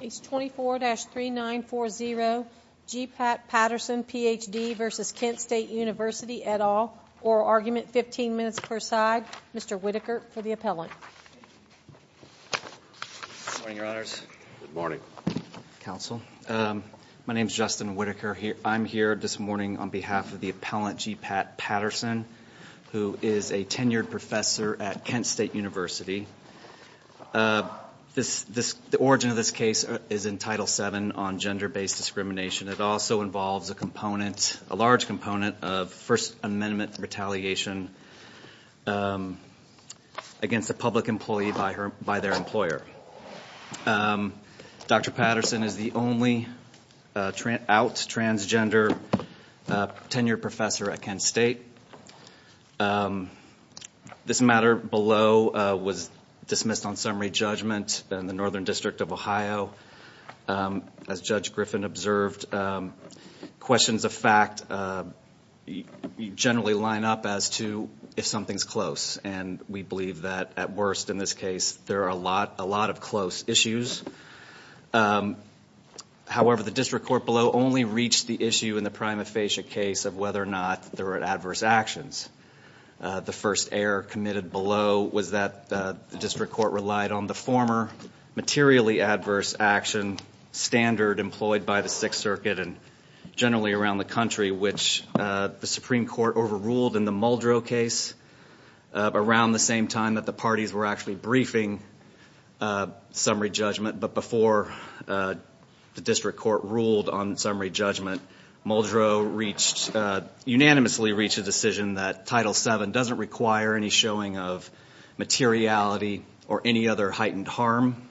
Page 24-3940, G. Pat Patterson, Ph.D. v. Kent State University, et al., Oral Argument, 15 minutes per side. Mr. Whittaker for the appellant. Good morning, Your Honors. Good morning, Counsel. My name is Justin Whittaker. I'm here this morning on behalf of the appellant, G. Pat Patterson, who is a tenured professor at Kent State University. The origin of this case is in Title VII on gender-based discrimination. It also involves a large component of First Amendment retaliation against a public employee by their employer. Dr. Patterson is the only out transgender tenured professor at Kent State. This matter below was dismissed on summary judgment. The Northern District of Ohio, as Judge Griffin observed, questions of fact generally line up as to if something's close. And we believe that, at worst in this case, there are a lot of close issues. However, the district court below only reached the issue in the prima facie case of whether or not there were adverse actions. The first error committed below was that the district court relied on the former materially adverse action standard employed by the Sixth Circuit and generally around the country, which the Supreme Court overruled in the Muldrow case around the same time that the parties were actually briefing summary judgment. But before the district court ruled on summary judgment, Muldrow unanimously reached a decision that Title VII doesn't require any showing of materiality or any other heightened harm.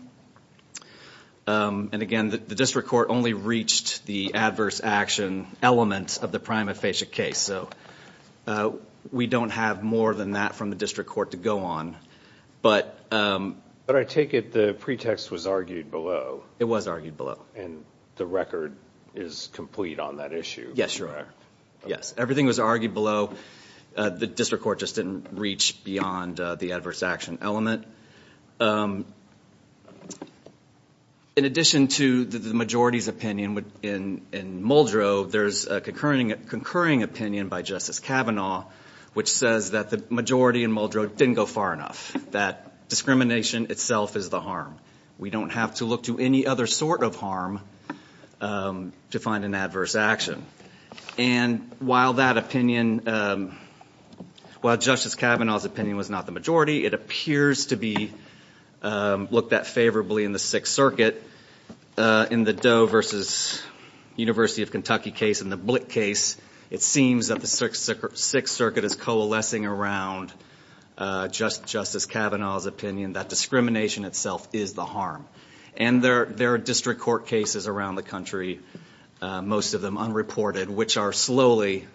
And again, the district court only reached the adverse action element of the prima facie case. So we don't have more than that from the district court to go on. But I take it the pretext was argued below. It was argued below. And the record is complete on that issue. Yes, sure. Yes, everything was argued below. The district court just didn't reach beyond the adverse action element. In addition to the majority's opinion in Muldrow, there's a concurring opinion by Justice Kavanaugh, which says that the majority in Muldrow didn't go far enough, that discrimination itself is the harm. We don't have to look to any other sort of harm to find an adverse action. And while that opinion, while Justice Kavanaugh's opinion was not the majority, it appears to be looked at favorably in the Sixth Circuit. In the Doe versus University of Kentucky case and the Blick case, it seems that the Sixth Circuit is coalescing around Justice Kavanaugh's opinion that discrimination itself is the harm. And there are district court cases around the country, most of them unreported, which are slowly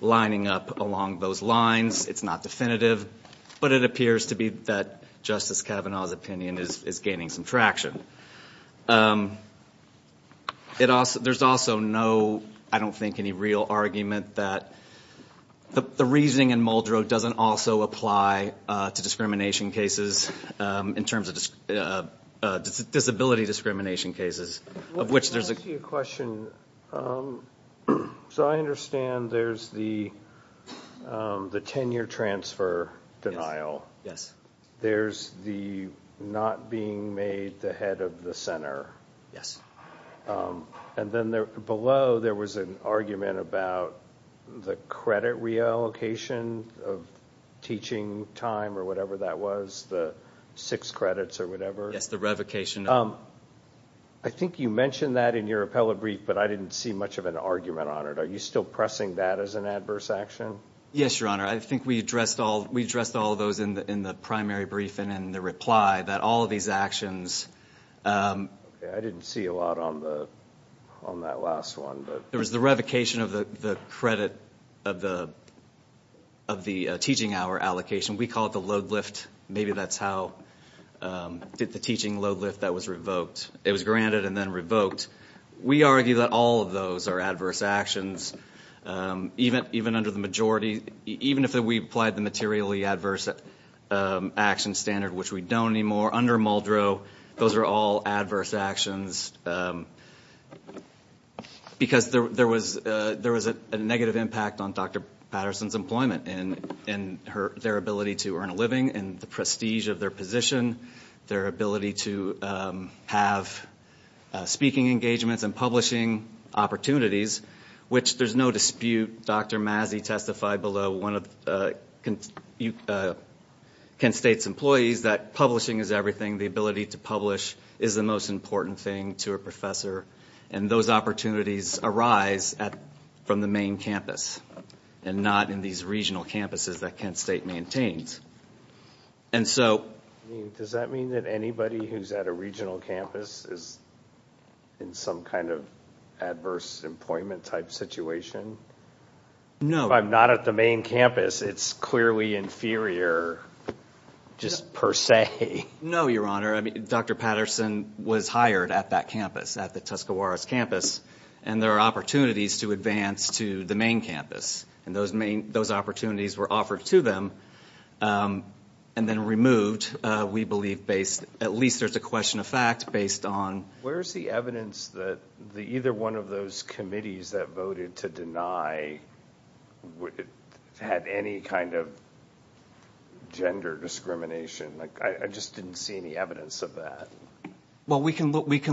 lining up along those lines. It's not definitive, but it appears to be that Justice Kavanaugh's opinion is gaining some traction. There's also no, I don't think, any real argument that the reasoning in Muldrow doesn't also apply to discrimination cases in terms of disability discrimination cases, of which there's a- Can I ask you a question? So I understand there's the tenure transfer denial. Yes. There's the not being made the head of the center. Yes. And then below there was an argument about the credit reallocation of teaching time or whatever that was, the six credits or whatever. Yes, the revocation. I think you mentioned that in your appellate brief, but I didn't see much of an argument on it. Are you still pressing that as an adverse action? Yes, Your Honor. I think we addressed all of those in the primary brief and in the reply, that all of these actions- I didn't see a lot on that last one. There was the revocation of the credit of the teaching hour allocation. We call it the load lift. Maybe that's how- the teaching load lift that was revoked. It was granted and then revoked. We argue that all of those are adverse actions, even under the majority- even if we applied the materially adverse action standard, which we don't anymore, under Muldrow, those are all adverse actions because there was a negative impact on Dr. Patterson's employment and their ability to earn a living and the prestige of their position, their ability to have speaking engagements and publishing opportunities, which there's no dispute. Dr. Mazzi testified below one of Kent State's employees that publishing is everything. The ability to publish is the most important thing to a professor, and those opportunities arise from the main campus and not in these regional campuses that Kent State maintains. And so- Does that mean that anybody who's at a regional campus is in some kind of adverse employment type situation? No. If I'm not at the main campus, it's clearly inferior, just per se. No, Your Honor. Dr. Patterson was hired at that campus, at the Tuscaroras campus, and there are opportunities to advance to the main campus, and those opportunities were offered to them and then removed, we believe, based- at least there's a question of fact based on- Where's the evidence that either one of those committees that voted to deny had any kind of gender discrimination? I just didn't see any evidence of that. Well, we can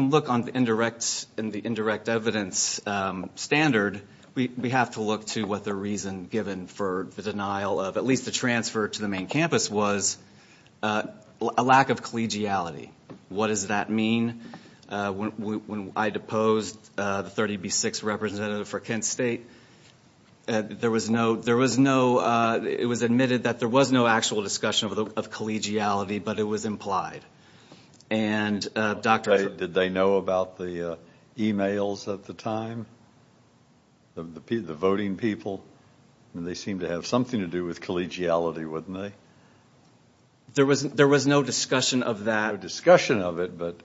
look on the indirect evidence standard. We have to look to what the reason given for the denial of at least the transfer to the main campus was a lack of collegiality. What does that mean? When I deposed the 30B6 representative for Kent State, there was no- it was admitted that there was no actual discussion of collegiality, but it was implied. Did they know about the emails at the time, the voting people? They seemed to have something to do with collegiality, wouldn't they? There was no discussion of that. No discussion of it, but-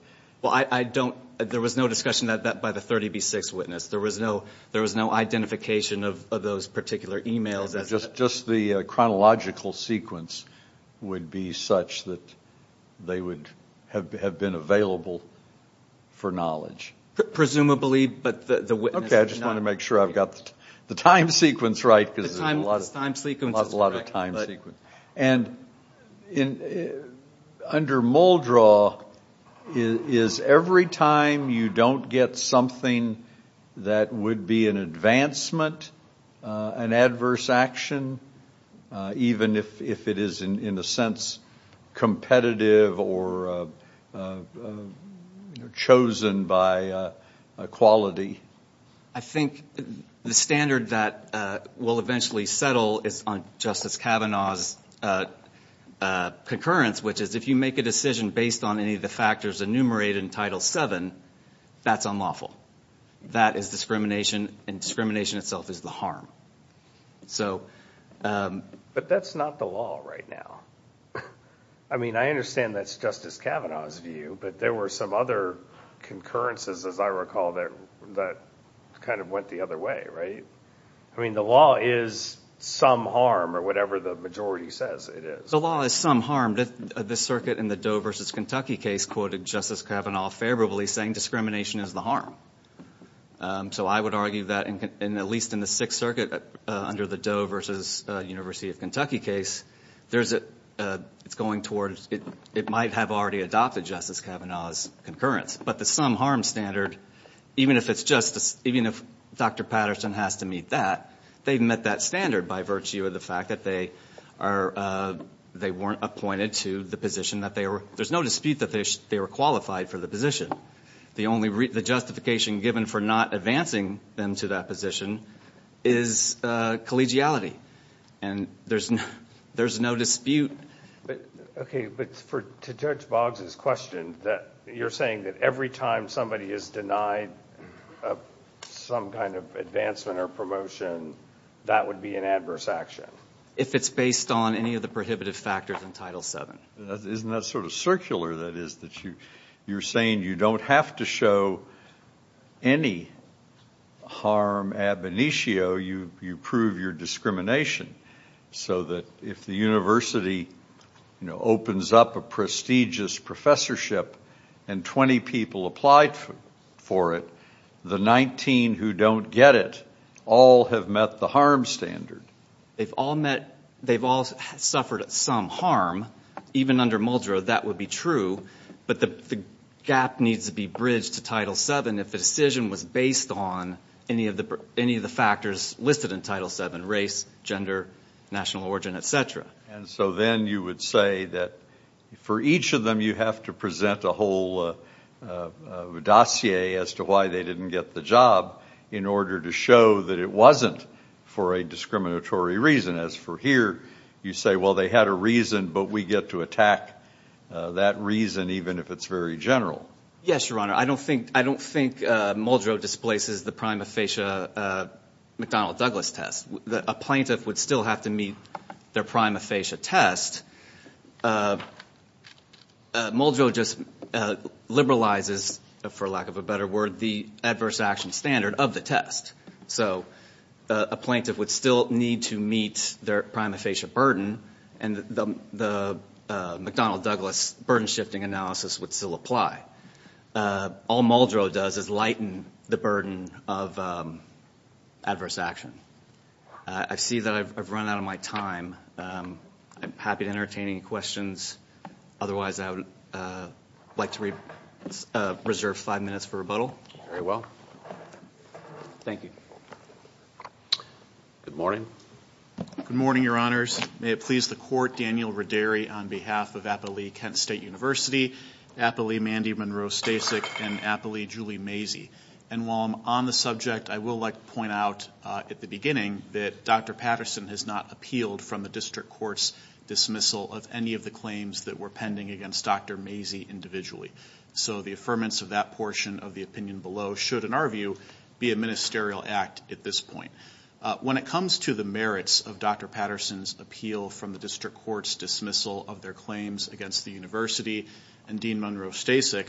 Well, I don't- there was no discussion of that by the 30B6 witness. There was no identification of those particular emails. Just the chronological sequence would be such that they would have been available for knowledge. Presumably, but the witness- Okay, I just want to make sure I've got the time sequence right, because there's a lot of time sequences. And under Muldraw, is every time you don't get something that would be an advancement, an adverse action, even if it is, in a sense, competitive or chosen by quality? I think the standard that will eventually settle is on Justice Kavanaugh's concurrence, which is if you make a decision based on any of the factors enumerated in Title VII, that's unlawful. That is discrimination, and discrimination itself is the harm. But that's not the law right now. I mean, I understand that's Justice Kavanaugh's view, but there were some other concurrences, as I recall, that kind of went the other way, right? I mean, the law is some harm, or whatever the majority says it is. The law is some harm. The circuit in the Doe v. Kentucky case quoted Justice Kavanaugh favorably, saying discrimination is the harm. So I would argue that, at least in the Sixth Circuit, under the Doe v. University of Kentucky case, it might have already adopted Justice Kavanaugh's concurrence. But the some harm standard, even if Dr. Patterson has to meet that, they've met that standard by virtue of the fact that they weren't appointed to the position. There's no dispute that they were qualified for the position. The justification given for not advancing them to that position is collegiality, and there's no dispute. Okay, but to Judge Boggs's question, you're saying that every time somebody is denied some kind of advancement or promotion, that would be an adverse action? If it's based on any of the prohibitive factors in Title VII. Isn't that sort of circular, that is, that you're saying you don't have to show any harm ab initio, you prove your discrimination, so that if the university opens up a prestigious professorship and 20 people applied for it, the 19 who don't get it all have met the harm standard. They've all suffered some harm, even under Muldrow, that would be true, but the gap needs to be bridged to Title VII if the decision was based on any of the factors listed in Title VII, race, gender, national origin, et cetera. And so then you would say that for each of them you have to present a whole dossier as to why they didn't get the job in order to show that it wasn't for a discriminatory reason. As for here, you say, well, they had a reason, but we get to attack that reason even if it's very general. Yes, Your Honor. I don't think Muldrow displaces the prima facie McDonnell-Douglas test. A plaintiff would still have to meet their prima facie test. Muldrow just liberalizes, for lack of a better word, the adverse action standard of the test. So a plaintiff would still need to meet their prima facie burden, and the McDonnell-Douglas burden-shifting analysis would still apply. All Muldrow does is lighten the burden of adverse action. I see that I've run out of my time. I'm happy to entertain any questions. Otherwise, I would like to reserve five minutes for rebuttal. Very well. Thank you. Good morning. Good morning, Your Honors. May it please the Court, Daniel Roderi on behalf of Applee Kent State University, Applee Mandy Monroe Stasek, and Applee Julie Mazey. And while I'm on the subject, I will like to point out at the beginning that Dr. Patterson has not appealed from the district court's dismissal of any of the claims that were pending against Dr. Mazey individually. So the affirmance of that portion of the opinion below should, in our view, be a ministerial act at this point. When it comes to the merits of Dr. Patterson's appeal from the district court's dismissal of their claims against the university and Dean Monroe Stasek,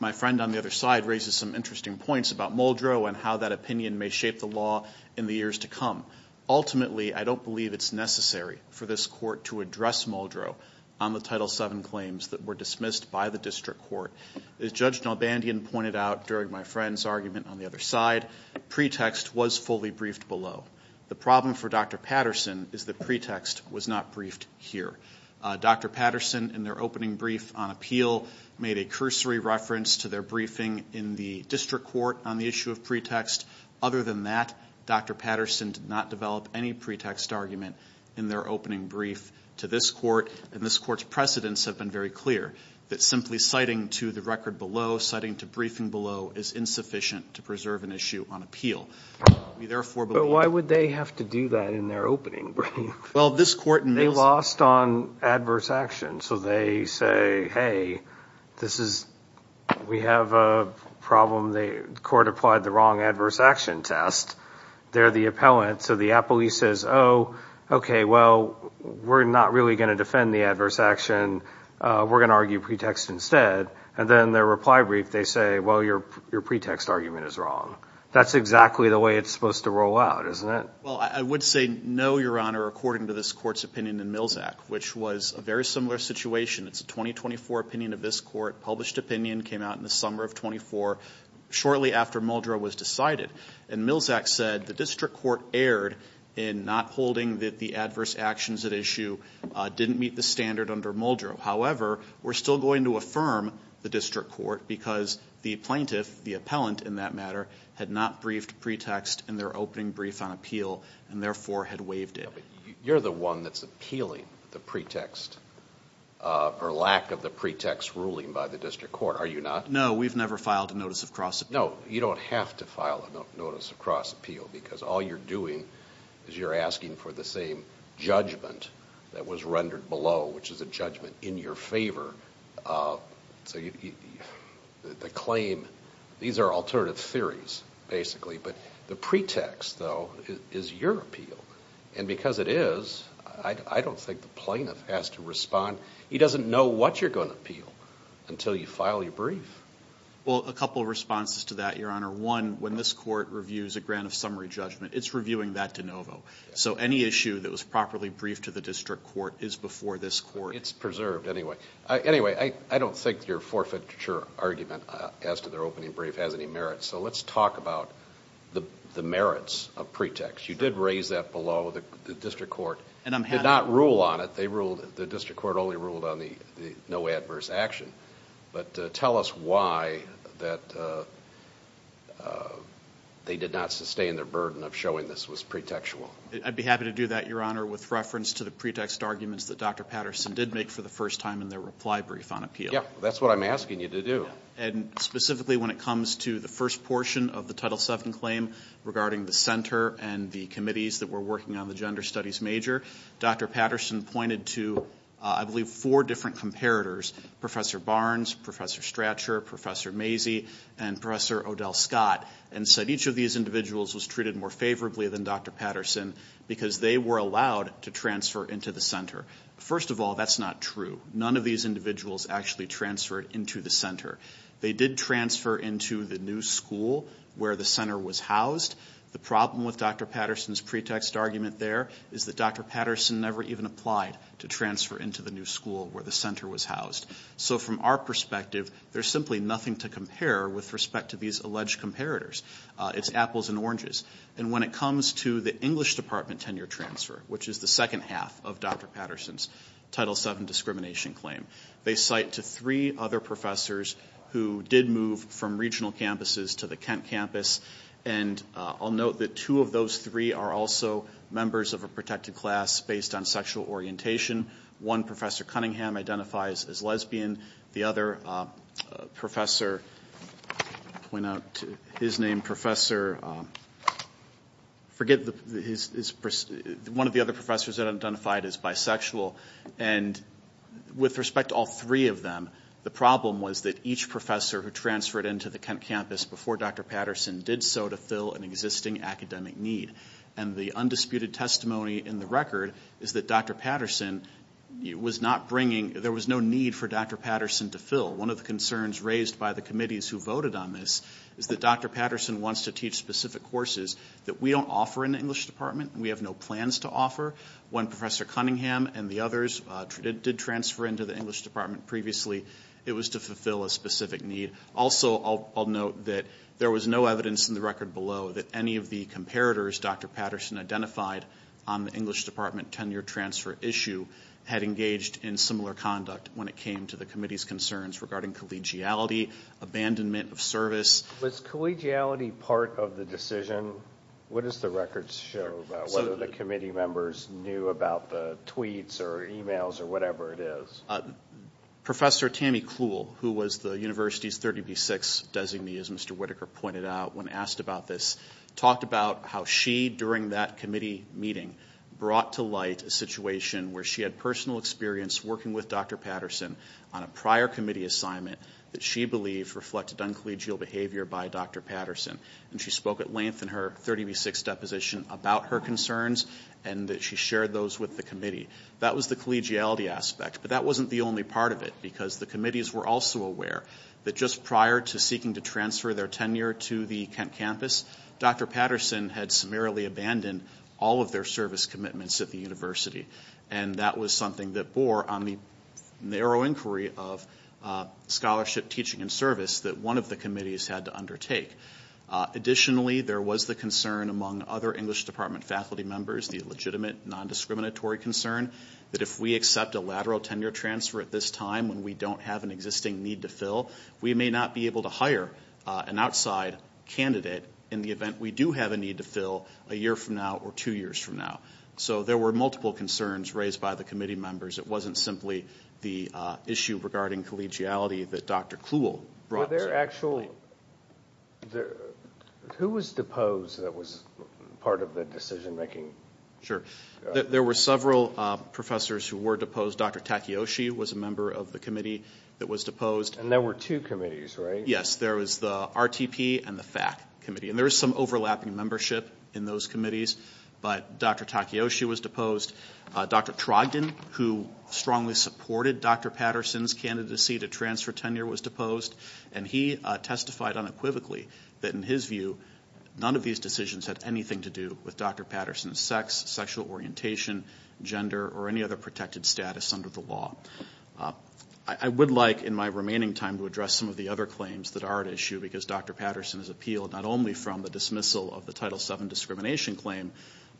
my friend on the other side raises some interesting points about Muldrow and how that opinion may shape the law in the years to come. Ultimately, I don't believe it's necessary for this court to address Muldrow on the Title VII claims that were dismissed by the district court. As Judge Nalbandian pointed out during my friend's argument on the other side, pretext was fully briefed below. The problem for Dr. Patterson is that pretext was not briefed here. Dr. Patterson, in their opening brief on appeal, made a cursory reference to their briefing in the district court on the issue of pretext. Other than that, Dr. Patterson did not develop any pretext argument in their opening brief to this court, and this court's precedents have been very clear that simply citing to the record below, citing to briefing below, is insufficient to preserve an issue on appeal. But why would they have to do that in their opening brief? They lost on adverse action, so they say, hey, we have a problem. The court applied the wrong adverse action test. They're the appellant, so the appellee says, oh, okay, well, we're not really going to defend the adverse action. We're going to argue pretext instead. And then in their reply brief, they say, well, your pretext argument is wrong. That's exactly the way it's supposed to roll out, isn't it? Well, I would say no, Your Honor, according to this court's opinion in Milzak, which was a very similar situation. It's a 2024 opinion of this court, published opinion, came out in the summer of 24, shortly after Muldrow was decided. And Milzak said the district court erred in not holding that the adverse actions at issue didn't meet the standard under Muldrow. However, we're still going to affirm the district court because the plaintiff, the appellant in that matter, had not briefed pretext in their opening brief on appeal and therefore had waived it. You're the one that's appealing the pretext or lack of the pretext ruling by the district court, are you not? No, we've never filed a notice of cross appeal. No, you don't have to file a notice of cross appeal because all you're doing is you're asking for the same judgment that was rendered below, which is a judgment in your favor. So the claim, these are alternative theories, basically. But the pretext, though, is your appeal. And because it is, I don't think the plaintiff has to respond. He doesn't know what you're going to appeal until you file your brief. Well, a couple of responses to that, Your Honor. One, when this court reviews a grant of summary judgment, it's reviewing that de novo. So any issue that was properly briefed to the district court is before this court. It's preserved anyway. Anyway, I don't think your forfeiture argument as to their opening brief has any merit. So let's talk about the merits of pretext. You did raise that below. The district court did not rule on it. The district court only ruled on the no adverse action. But tell us why that they did not sustain their burden of showing this was pretextual. I'd be happy to do that, Your Honor, with reference to the pretext arguments that Dr. Patterson did make for the first time in their reply brief on appeal. Yeah, that's what I'm asking you to do. And specifically when it comes to the first portion of the Title VII claim regarding the center and the committees that were working on the gender studies major, Dr. Patterson pointed to, I believe, four different comparators, Professor Barnes, Professor Stratcher, Professor Mazey, and Professor Odell Scott, and said each of these individuals was treated more favorably than Dr. Patterson because they were allowed to transfer into the center. First of all, that's not true. None of these individuals actually transferred into the center. They did transfer into the new school where the center was housed. The problem with Dr. Patterson's pretext argument there is that Dr. Patterson never even applied to transfer into the new school where the center was housed. So from our perspective, there's simply nothing to compare with respect to these alleged comparators. It's apples and oranges. And when it comes to the English department tenure transfer, which is the second half of Dr. Patterson's Title VII discrimination claim, they cite to three other professors who did move from regional campuses to the Kent campus, and I'll note that two of those three are also members of a protected class based on sexual orientation. One, Professor Cunningham, identifies as lesbian. The other professor, I'll point out his name, Professor, forget his, one of the other professors identified as bisexual. And with respect to all three of them, the problem was that each professor who transferred into the Kent campus before Dr. Patterson did so to fill an existing academic need. And the undisputed testimony in the record is that Dr. Patterson was not bringing, there was no need for Dr. Patterson to fill. One of the concerns raised by the committees who voted on this is that Dr. Patterson wants to teach specific courses that we don't offer in the English department. We have no plans to offer. When Professor Cunningham and the others did transfer into the English department previously, it was to fulfill a specific need. Also, I'll note that there was no evidence in the record below that any of the comparators Dr. Patterson identified on the English department tenure transfer issue had engaged in similar conduct when it came to the committee's concerns regarding collegiality, abandonment of service. Was collegiality part of the decision? What does the record show about whether the committee members knew about the tweets or emails or whatever it is? Professor Tammy Clule, who was the university's 30B6 designee, as Mr. Whitaker pointed out, when asked about this, talked about how she, during that committee meeting, brought to light a situation where she had personal experience working with Dr. Patterson on a prior committee assignment that she believed reflected uncollegial behavior by Dr. Patterson. And she spoke at length in her 30B6 deposition about her concerns and that she shared those with the committee. That was the collegiality aspect, but that wasn't the only part of it because the committees were also aware that just prior to seeking to transfer their tenure to the Kent campus, Dr. Patterson had summarily abandoned all of their service commitments at the university. And that was something that bore on the narrow inquiry of scholarship, teaching, and service that one of the committees had to undertake. Additionally, there was the concern among other English department faculty members, the legitimate non-discriminatory concern that if we accept a lateral tenure transfer at this time when we don't have an existing need to fill, we may not be able to hire an outside candidate in the event we do have a need to fill a year from now or two years from now. So there were multiple concerns raised by the committee members. It wasn't simply the issue regarding collegiality that Dr. Kluhl brought to light. Were there actual, who was deposed that was part of the decision-making? Sure. There were several professors who were deposed. Dr. Takayoshi was a member of the committee that was deposed. And there were two committees, right? Yes, there was the RTP and the FAC committee. And there was some overlapping membership in those committees, but Dr. Takayoshi was deposed. Dr. Trogdon, who strongly supported Dr. Patterson's candidacy to transfer tenure, was deposed. And he testified unequivocally that in his view, none of these decisions had anything to do with Dr. Patterson's sex, sexual orientation, gender, or any other protected status under the law. I would like in my remaining time to address some of the other claims that are at issue because Dr. Patterson has appealed not only from the dismissal of the Title VII discrimination claim,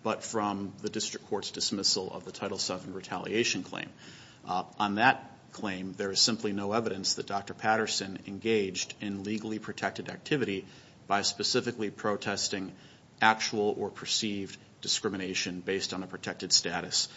but from the district court's dismissal of the Title VII retaliation claim. On that claim, there is simply no evidence that Dr. Patterson engaged in legally protected activity by specifically protesting actual or perceived discrimination based on a protected status.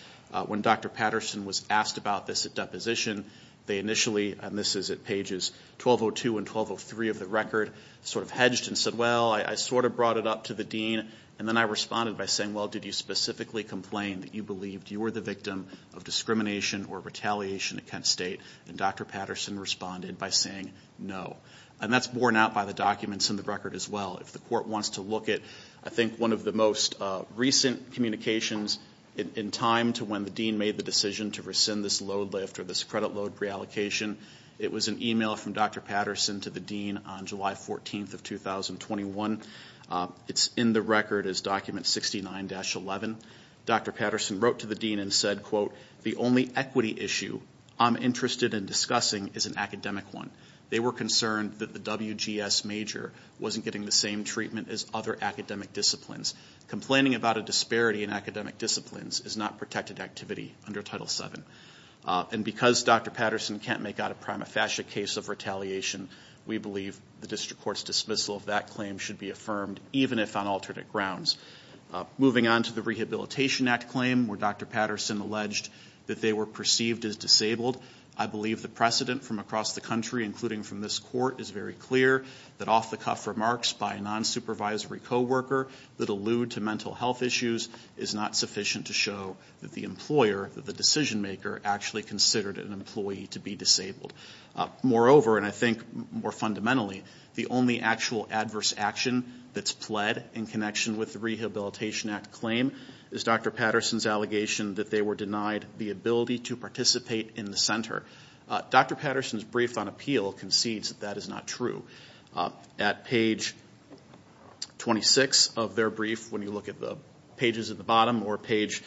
When Dr. Patterson was asked about this at deposition, they initially, and this is at pages 1202 and 1203 of the record, sort of hedged and said, well, I sort of brought it up to the dean, and then I responded by saying, well, did you specifically complain that you believed you were the victim of discrimination or retaliation against state? And Dr. Patterson responded by saying no. And that's borne out by the documents in the record as well. If the court wants to look at, I think, one of the most recent communications in time to when the dean made the decision to rescind this load lift or this credit load reallocation, it was an email from Dr. Patterson to the dean on July 14th of 2021. It's in the record as document 69-11. Dr. Patterson wrote to the dean and said, quote, the only equity issue I'm interested in discussing is an academic one. They were concerned that the WGS major wasn't getting the same treatment as other academic disciplines. Complaining about a disparity in academic disciplines is not protected activity under Title VII. And because Dr. Patterson can't make out a prima facie case of retaliation, we believe the district court's dismissal of that claim should be affirmed, even if on alternate grounds. Moving on to the Rehabilitation Act claim where Dr. Patterson alleged that they were perceived as disabled, I believe the precedent from across the country, including from this court, is very clear that off-the-cuff remarks by a non-supervisory co-worker that allude to mental health issues is not sufficient to show that the employer, the decision maker, actually considered an employee to be disabled. Moreover, and I think more fundamentally, the only actual adverse action that's pled in connection with the Rehabilitation Act claim is Dr. Patterson's allegation that they were denied the ability to participate in the center. Dr. Patterson's brief on appeal concedes that that is not true. At page 26 of their brief, when you look at the pages at the bottom, or page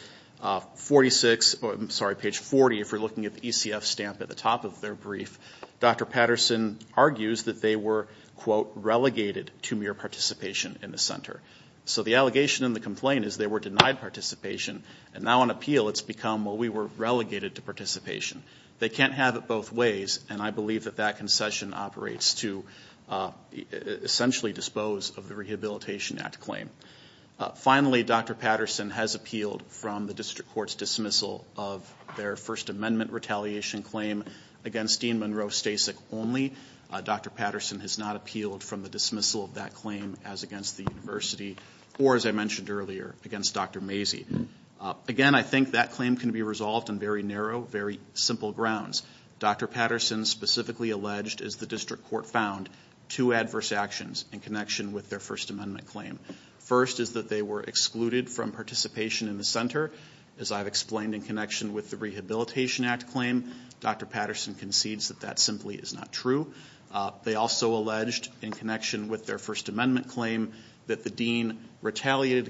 40 if you're looking at the ECF stamp at the top of their brief, Dr. Patterson argues that they were, quote, and now on appeal it's become, well, we were relegated to participation. They can't have it both ways, and I believe that that concession operates to essentially dispose of the Rehabilitation Act claim. Finally, Dr. Patterson has appealed from the district court's dismissal of their First Amendment retaliation claim against Dean Monroe Stasek only. Dr. Patterson has not appealed from the dismissal of that claim as against the university or, as I mentioned earlier, against Dr. Mazey. Again, I think that claim can be resolved on very narrow, very simple grounds. Dr. Patterson specifically alleged, as the district court found, two adverse actions in connection with their First Amendment claim. First is that they were excluded from participation in the center. As I've explained in connection with the Rehabilitation Act claim, Dr. Patterson concedes that that simply is not true. They also alleged, in connection with their First Amendment claim, that the dean retaliated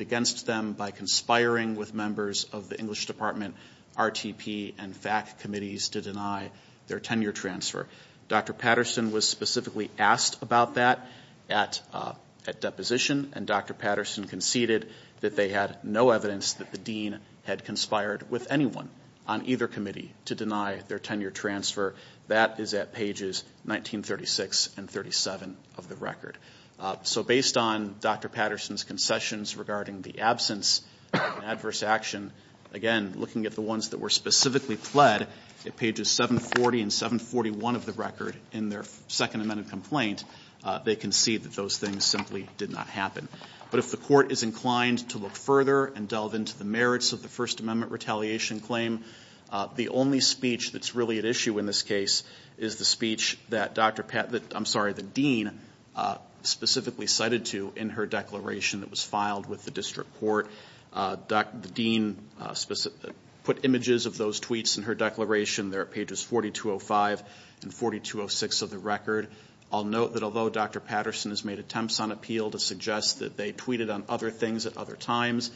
against them by conspiring with members of the English Department, RTP, and FAC committees to deny their tenure transfer. Dr. Patterson was specifically asked about that at deposition, and Dr. Patterson conceded that they had no evidence that the dean had conspired with anyone on either committee to deny their tenure transfer. That is at pages 1936 and 37 of the record. So based on Dr. Patterson's concessions regarding the absence of adverse action, again, looking at the ones that were specifically pled at pages 740 and 741 of the record in their Second Amendment complaint, they concede that those things simply did not happen. But if the court is inclined to look further and delve into the merits of the First Amendment retaliation claim, the only speech that's really at issue in this case is the speech that the dean specifically cited to in her declaration that was filed with the district court. The dean put images of those tweets in her declaration. They're at pages 4205 and 4206 of the record. I'll note that although Dr. Patterson has made attempts on appeal to suggest that they tweeted on other things at other times,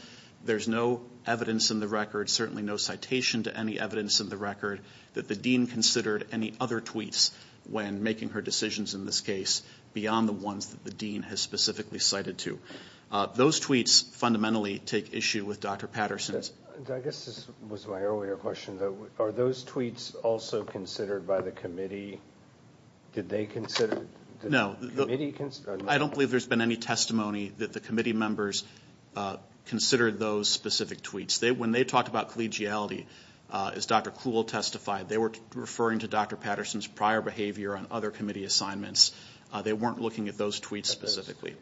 there's no evidence in the record, certainly no citation to any evidence in the record, that the dean considered any other tweets when making her decisions in this case beyond the ones that the dean has specifically cited to. Those tweets fundamentally take issue with Dr. Patterson's. I guess this was my earlier question, though. Are those tweets also considered by the committee? Did they consider it? No. I don't believe there's been any testimony that the committee members considered those specific tweets. When they talked about collegiality, as Dr. Kuhl testified, they were referring to Dr. Patterson's prior behavior on other committee assignments. They weren't looking at those tweets specifically.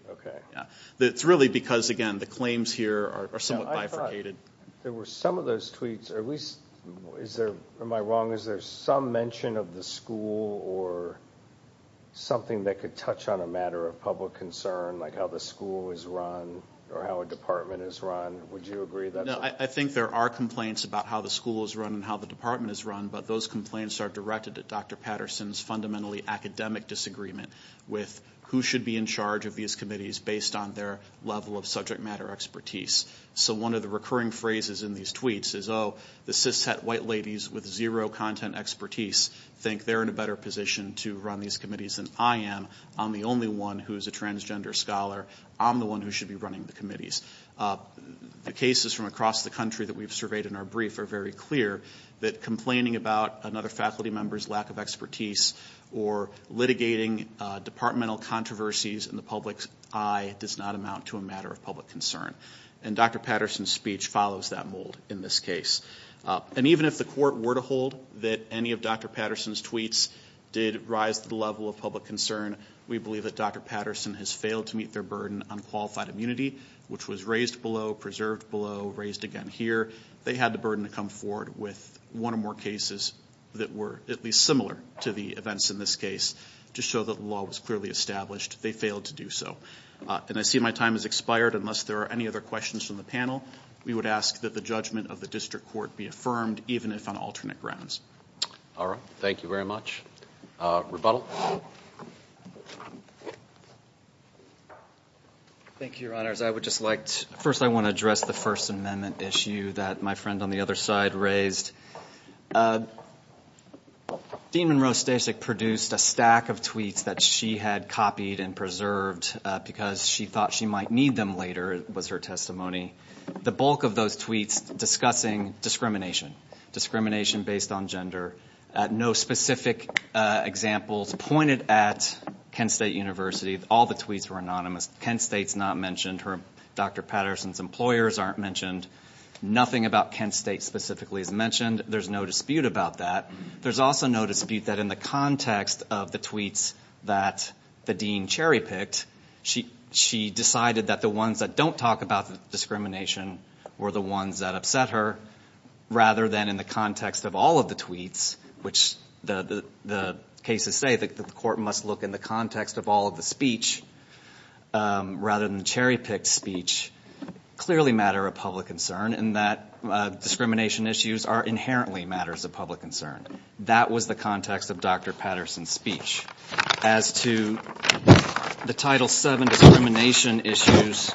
It's really because, again, the claims here are somewhat bifurcated. I thought there were some of those tweets, or at least, am I wrong, is there some mention of the school or something that could touch on a matter of public concern, like how the school is run or how a department is run? Would you agree? I think there are complaints about how the school is run and how the department is run, but those complaints are directed at Dr. Patterson's fundamentally academic disagreement with who should be in charge of these committees based on their level of subject matter expertise. So one of the recurring phrases in these tweets is, although the cis-het white ladies with zero content expertise think they're in a better position to run these committees than I am, I'm the only one who is a transgender scholar. I'm the one who should be running the committees. The cases from across the country that we've surveyed in our brief are very clear that complaining about another faculty member's lack of expertise or litigating departmental controversies in the public's eye does not amount to a matter of public concern. And Dr. Patterson's speech follows that mold in this case. And even if the court were to hold that any of Dr. Patterson's tweets did rise to the level of public concern, we believe that Dr. Patterson has failed to meet their burden on qualified immunity, which was raised below, preserved below, raised again here. They had the burden to come forward with one or more cases that were at least similar to the events in this case to show that the law was clearly established. They failed to do so. And I see my time has expired. Unless there are any other questions from the panel, we would ask that the judgment of the district court be affirmed, even if on alternate grounds. All right. Thank you very much. Thank you, Your Honors. I would just like to first I want to address the First Amendment issue that my friend on the other side raised. Dean Monroe Stasek produced a stack of tweets that she had copied and preserved because she thought she might need them later, was her testimony. The bulk of those tweets discussing discrimination, discrimination based on gender. No specific examples pointed at Kent State University. All the tweets were anonymous. Kent State's not mentioned. Dr. Patterson's employers aren't mentioned. Nothing about Kent State specifically is mentioned. There's no dispute about that. There's also no dispute that in the context of the tweets that the dean cherry-picked, she decided that the ones that don't talk about discrimination were the ones that upset her rather than in the context of all of the tweets, which the cases say that the court must look in the context of all of the speech rather than the cherry-picked speech. Clearly a matter of public concern in that discrimination issues are inherently matters of public concern. That was the context of Dr. Patterson's speech. As to the Title VII discrimination issues,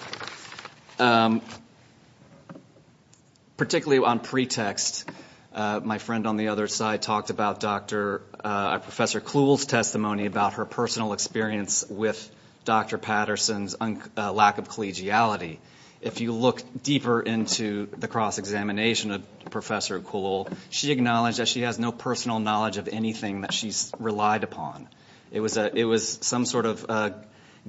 particularly on pretext, my friend on the other side talked about Dr. Professor Cluel's testimony about her personal experience with Dr. Patterson's lack of collegiality. If you look deeper into the cross-examination of Professor Cluel, she acknowledged that she has no personal knowledge of anything that she's relied upon. It was some sort of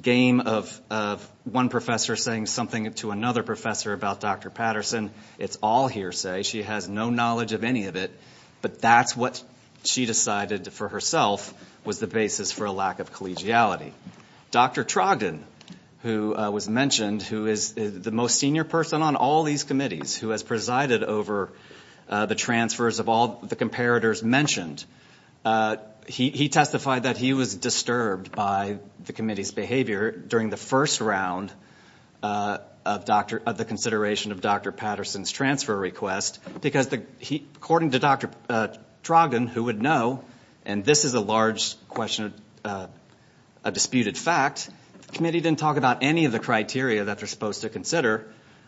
game of one professor saying something to another professor about Dr. Patterson. It's all hearsay. She has no knowledge of any of it, but that's what she decided for herself was the basis for a lack of collegiality. Dr. Trogdon, who was mentioned, who is the most senior person on all these committees, who has presided over the transfers of all the comparators mentioned, he testified that he was disturbed by the committee's behavior during the first round of the consideration of Dr. Patterson's transfer request because, according to Dr. Trogdon, who would know, and this is a large question, a disputed fact, the committee didn't talk about any of the criteria that they're supposed to consider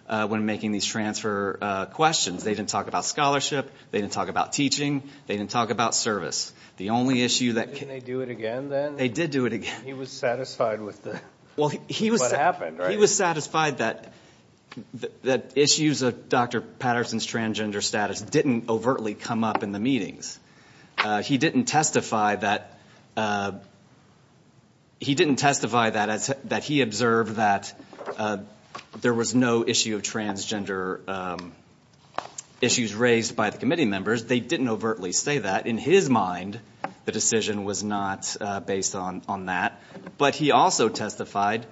when making these transfer questions. They didn't talk about scholarship. They didn't talk about teaching. They didn't talk about service. The only issue that... Didn't they do it again then? They did do it again. He was satisfied with what happened, right? He was satisfied that issues of Dr. Patterson's transgender status didn't overtly come up in the meetings. He didn't testify that he observed that there was no issue of transgender issues raised by the committee members. They didn't overtly say that. In his mind, the decision was not based on that. But he also testified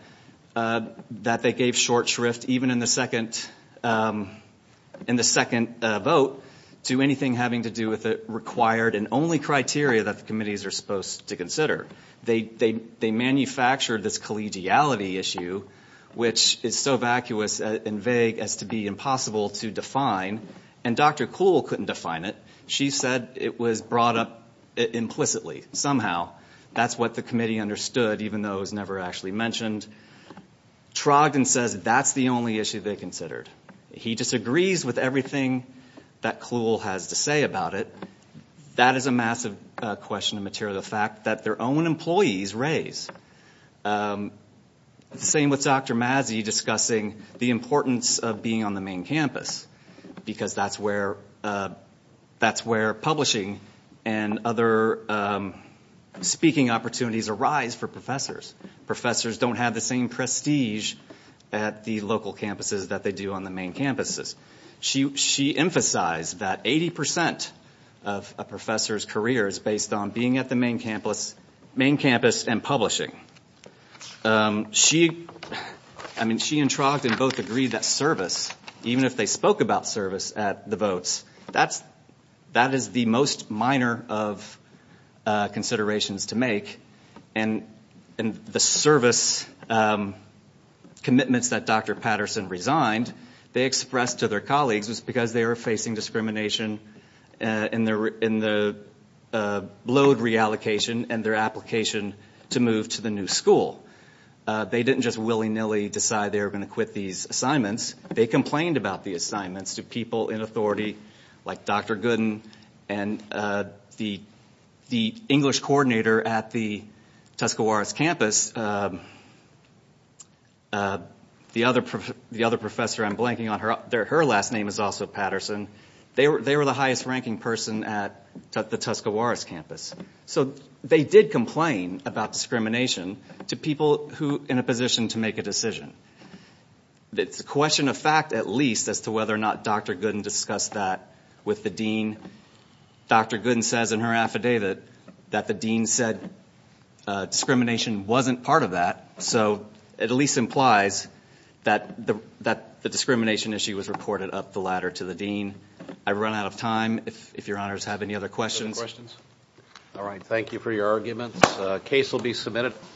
that they gave short shrift, even in the second vote, to anything having to do with the required and only criteria that the committees are supposed to consider. They manufactured this collegiality issue, which is so vacuous and vague as to be impossible to define, and Dr. Kuhl couldn't define it. She said it was brought up implicitly, somehow. That's what the committee understood, even though it was never actually mentioned. Trogdon says that's the only issue they considered. He disagrees with everything that Kuhl has to say about it. That is a massive question of material fact that their own employees raise. Same with Dr. Mazzi discussing the importance of being on the main campus because that's where publishing and other speaking opportunities arise for professors. Professors don't have the same prestige at the local campuses that they do on the main campuses. She emphasized that 80% of a professor's career is based on being at the main campus and publishing. She and Trogdon both agreed that service, even if they spoke about service at the votes, that is the most minor of considerations to make. The service commitments that Dr. Patterson resigned, they expressed to their colleagues, was because they were facing discrimination in the load reallocation and their application to move to the new school. They didn't just willy-nilly decide they were going to quit these assignments. They complained about the assignments to people in authority, like Dr. Gooden and the English coordinator at the Tuscarawas campus. The other professor I'm blanking on, her last name is also Patterson. They were the highest ranking person at the Tuscarawas campus. They did complain about discrimination to people in a position to make a decision. It's a question of fact, at least, as to whether or not Dr. Gooden discussed that with the dean. Dr. Gooden says in her affidavit that the dean said discrimination wasn't part of that, so it at least implies that the discrimination issue was reported up the ladder to the dean. I've run out of time. If your honors have any other questions. All right, thank you for your arguments. The case will be submitted.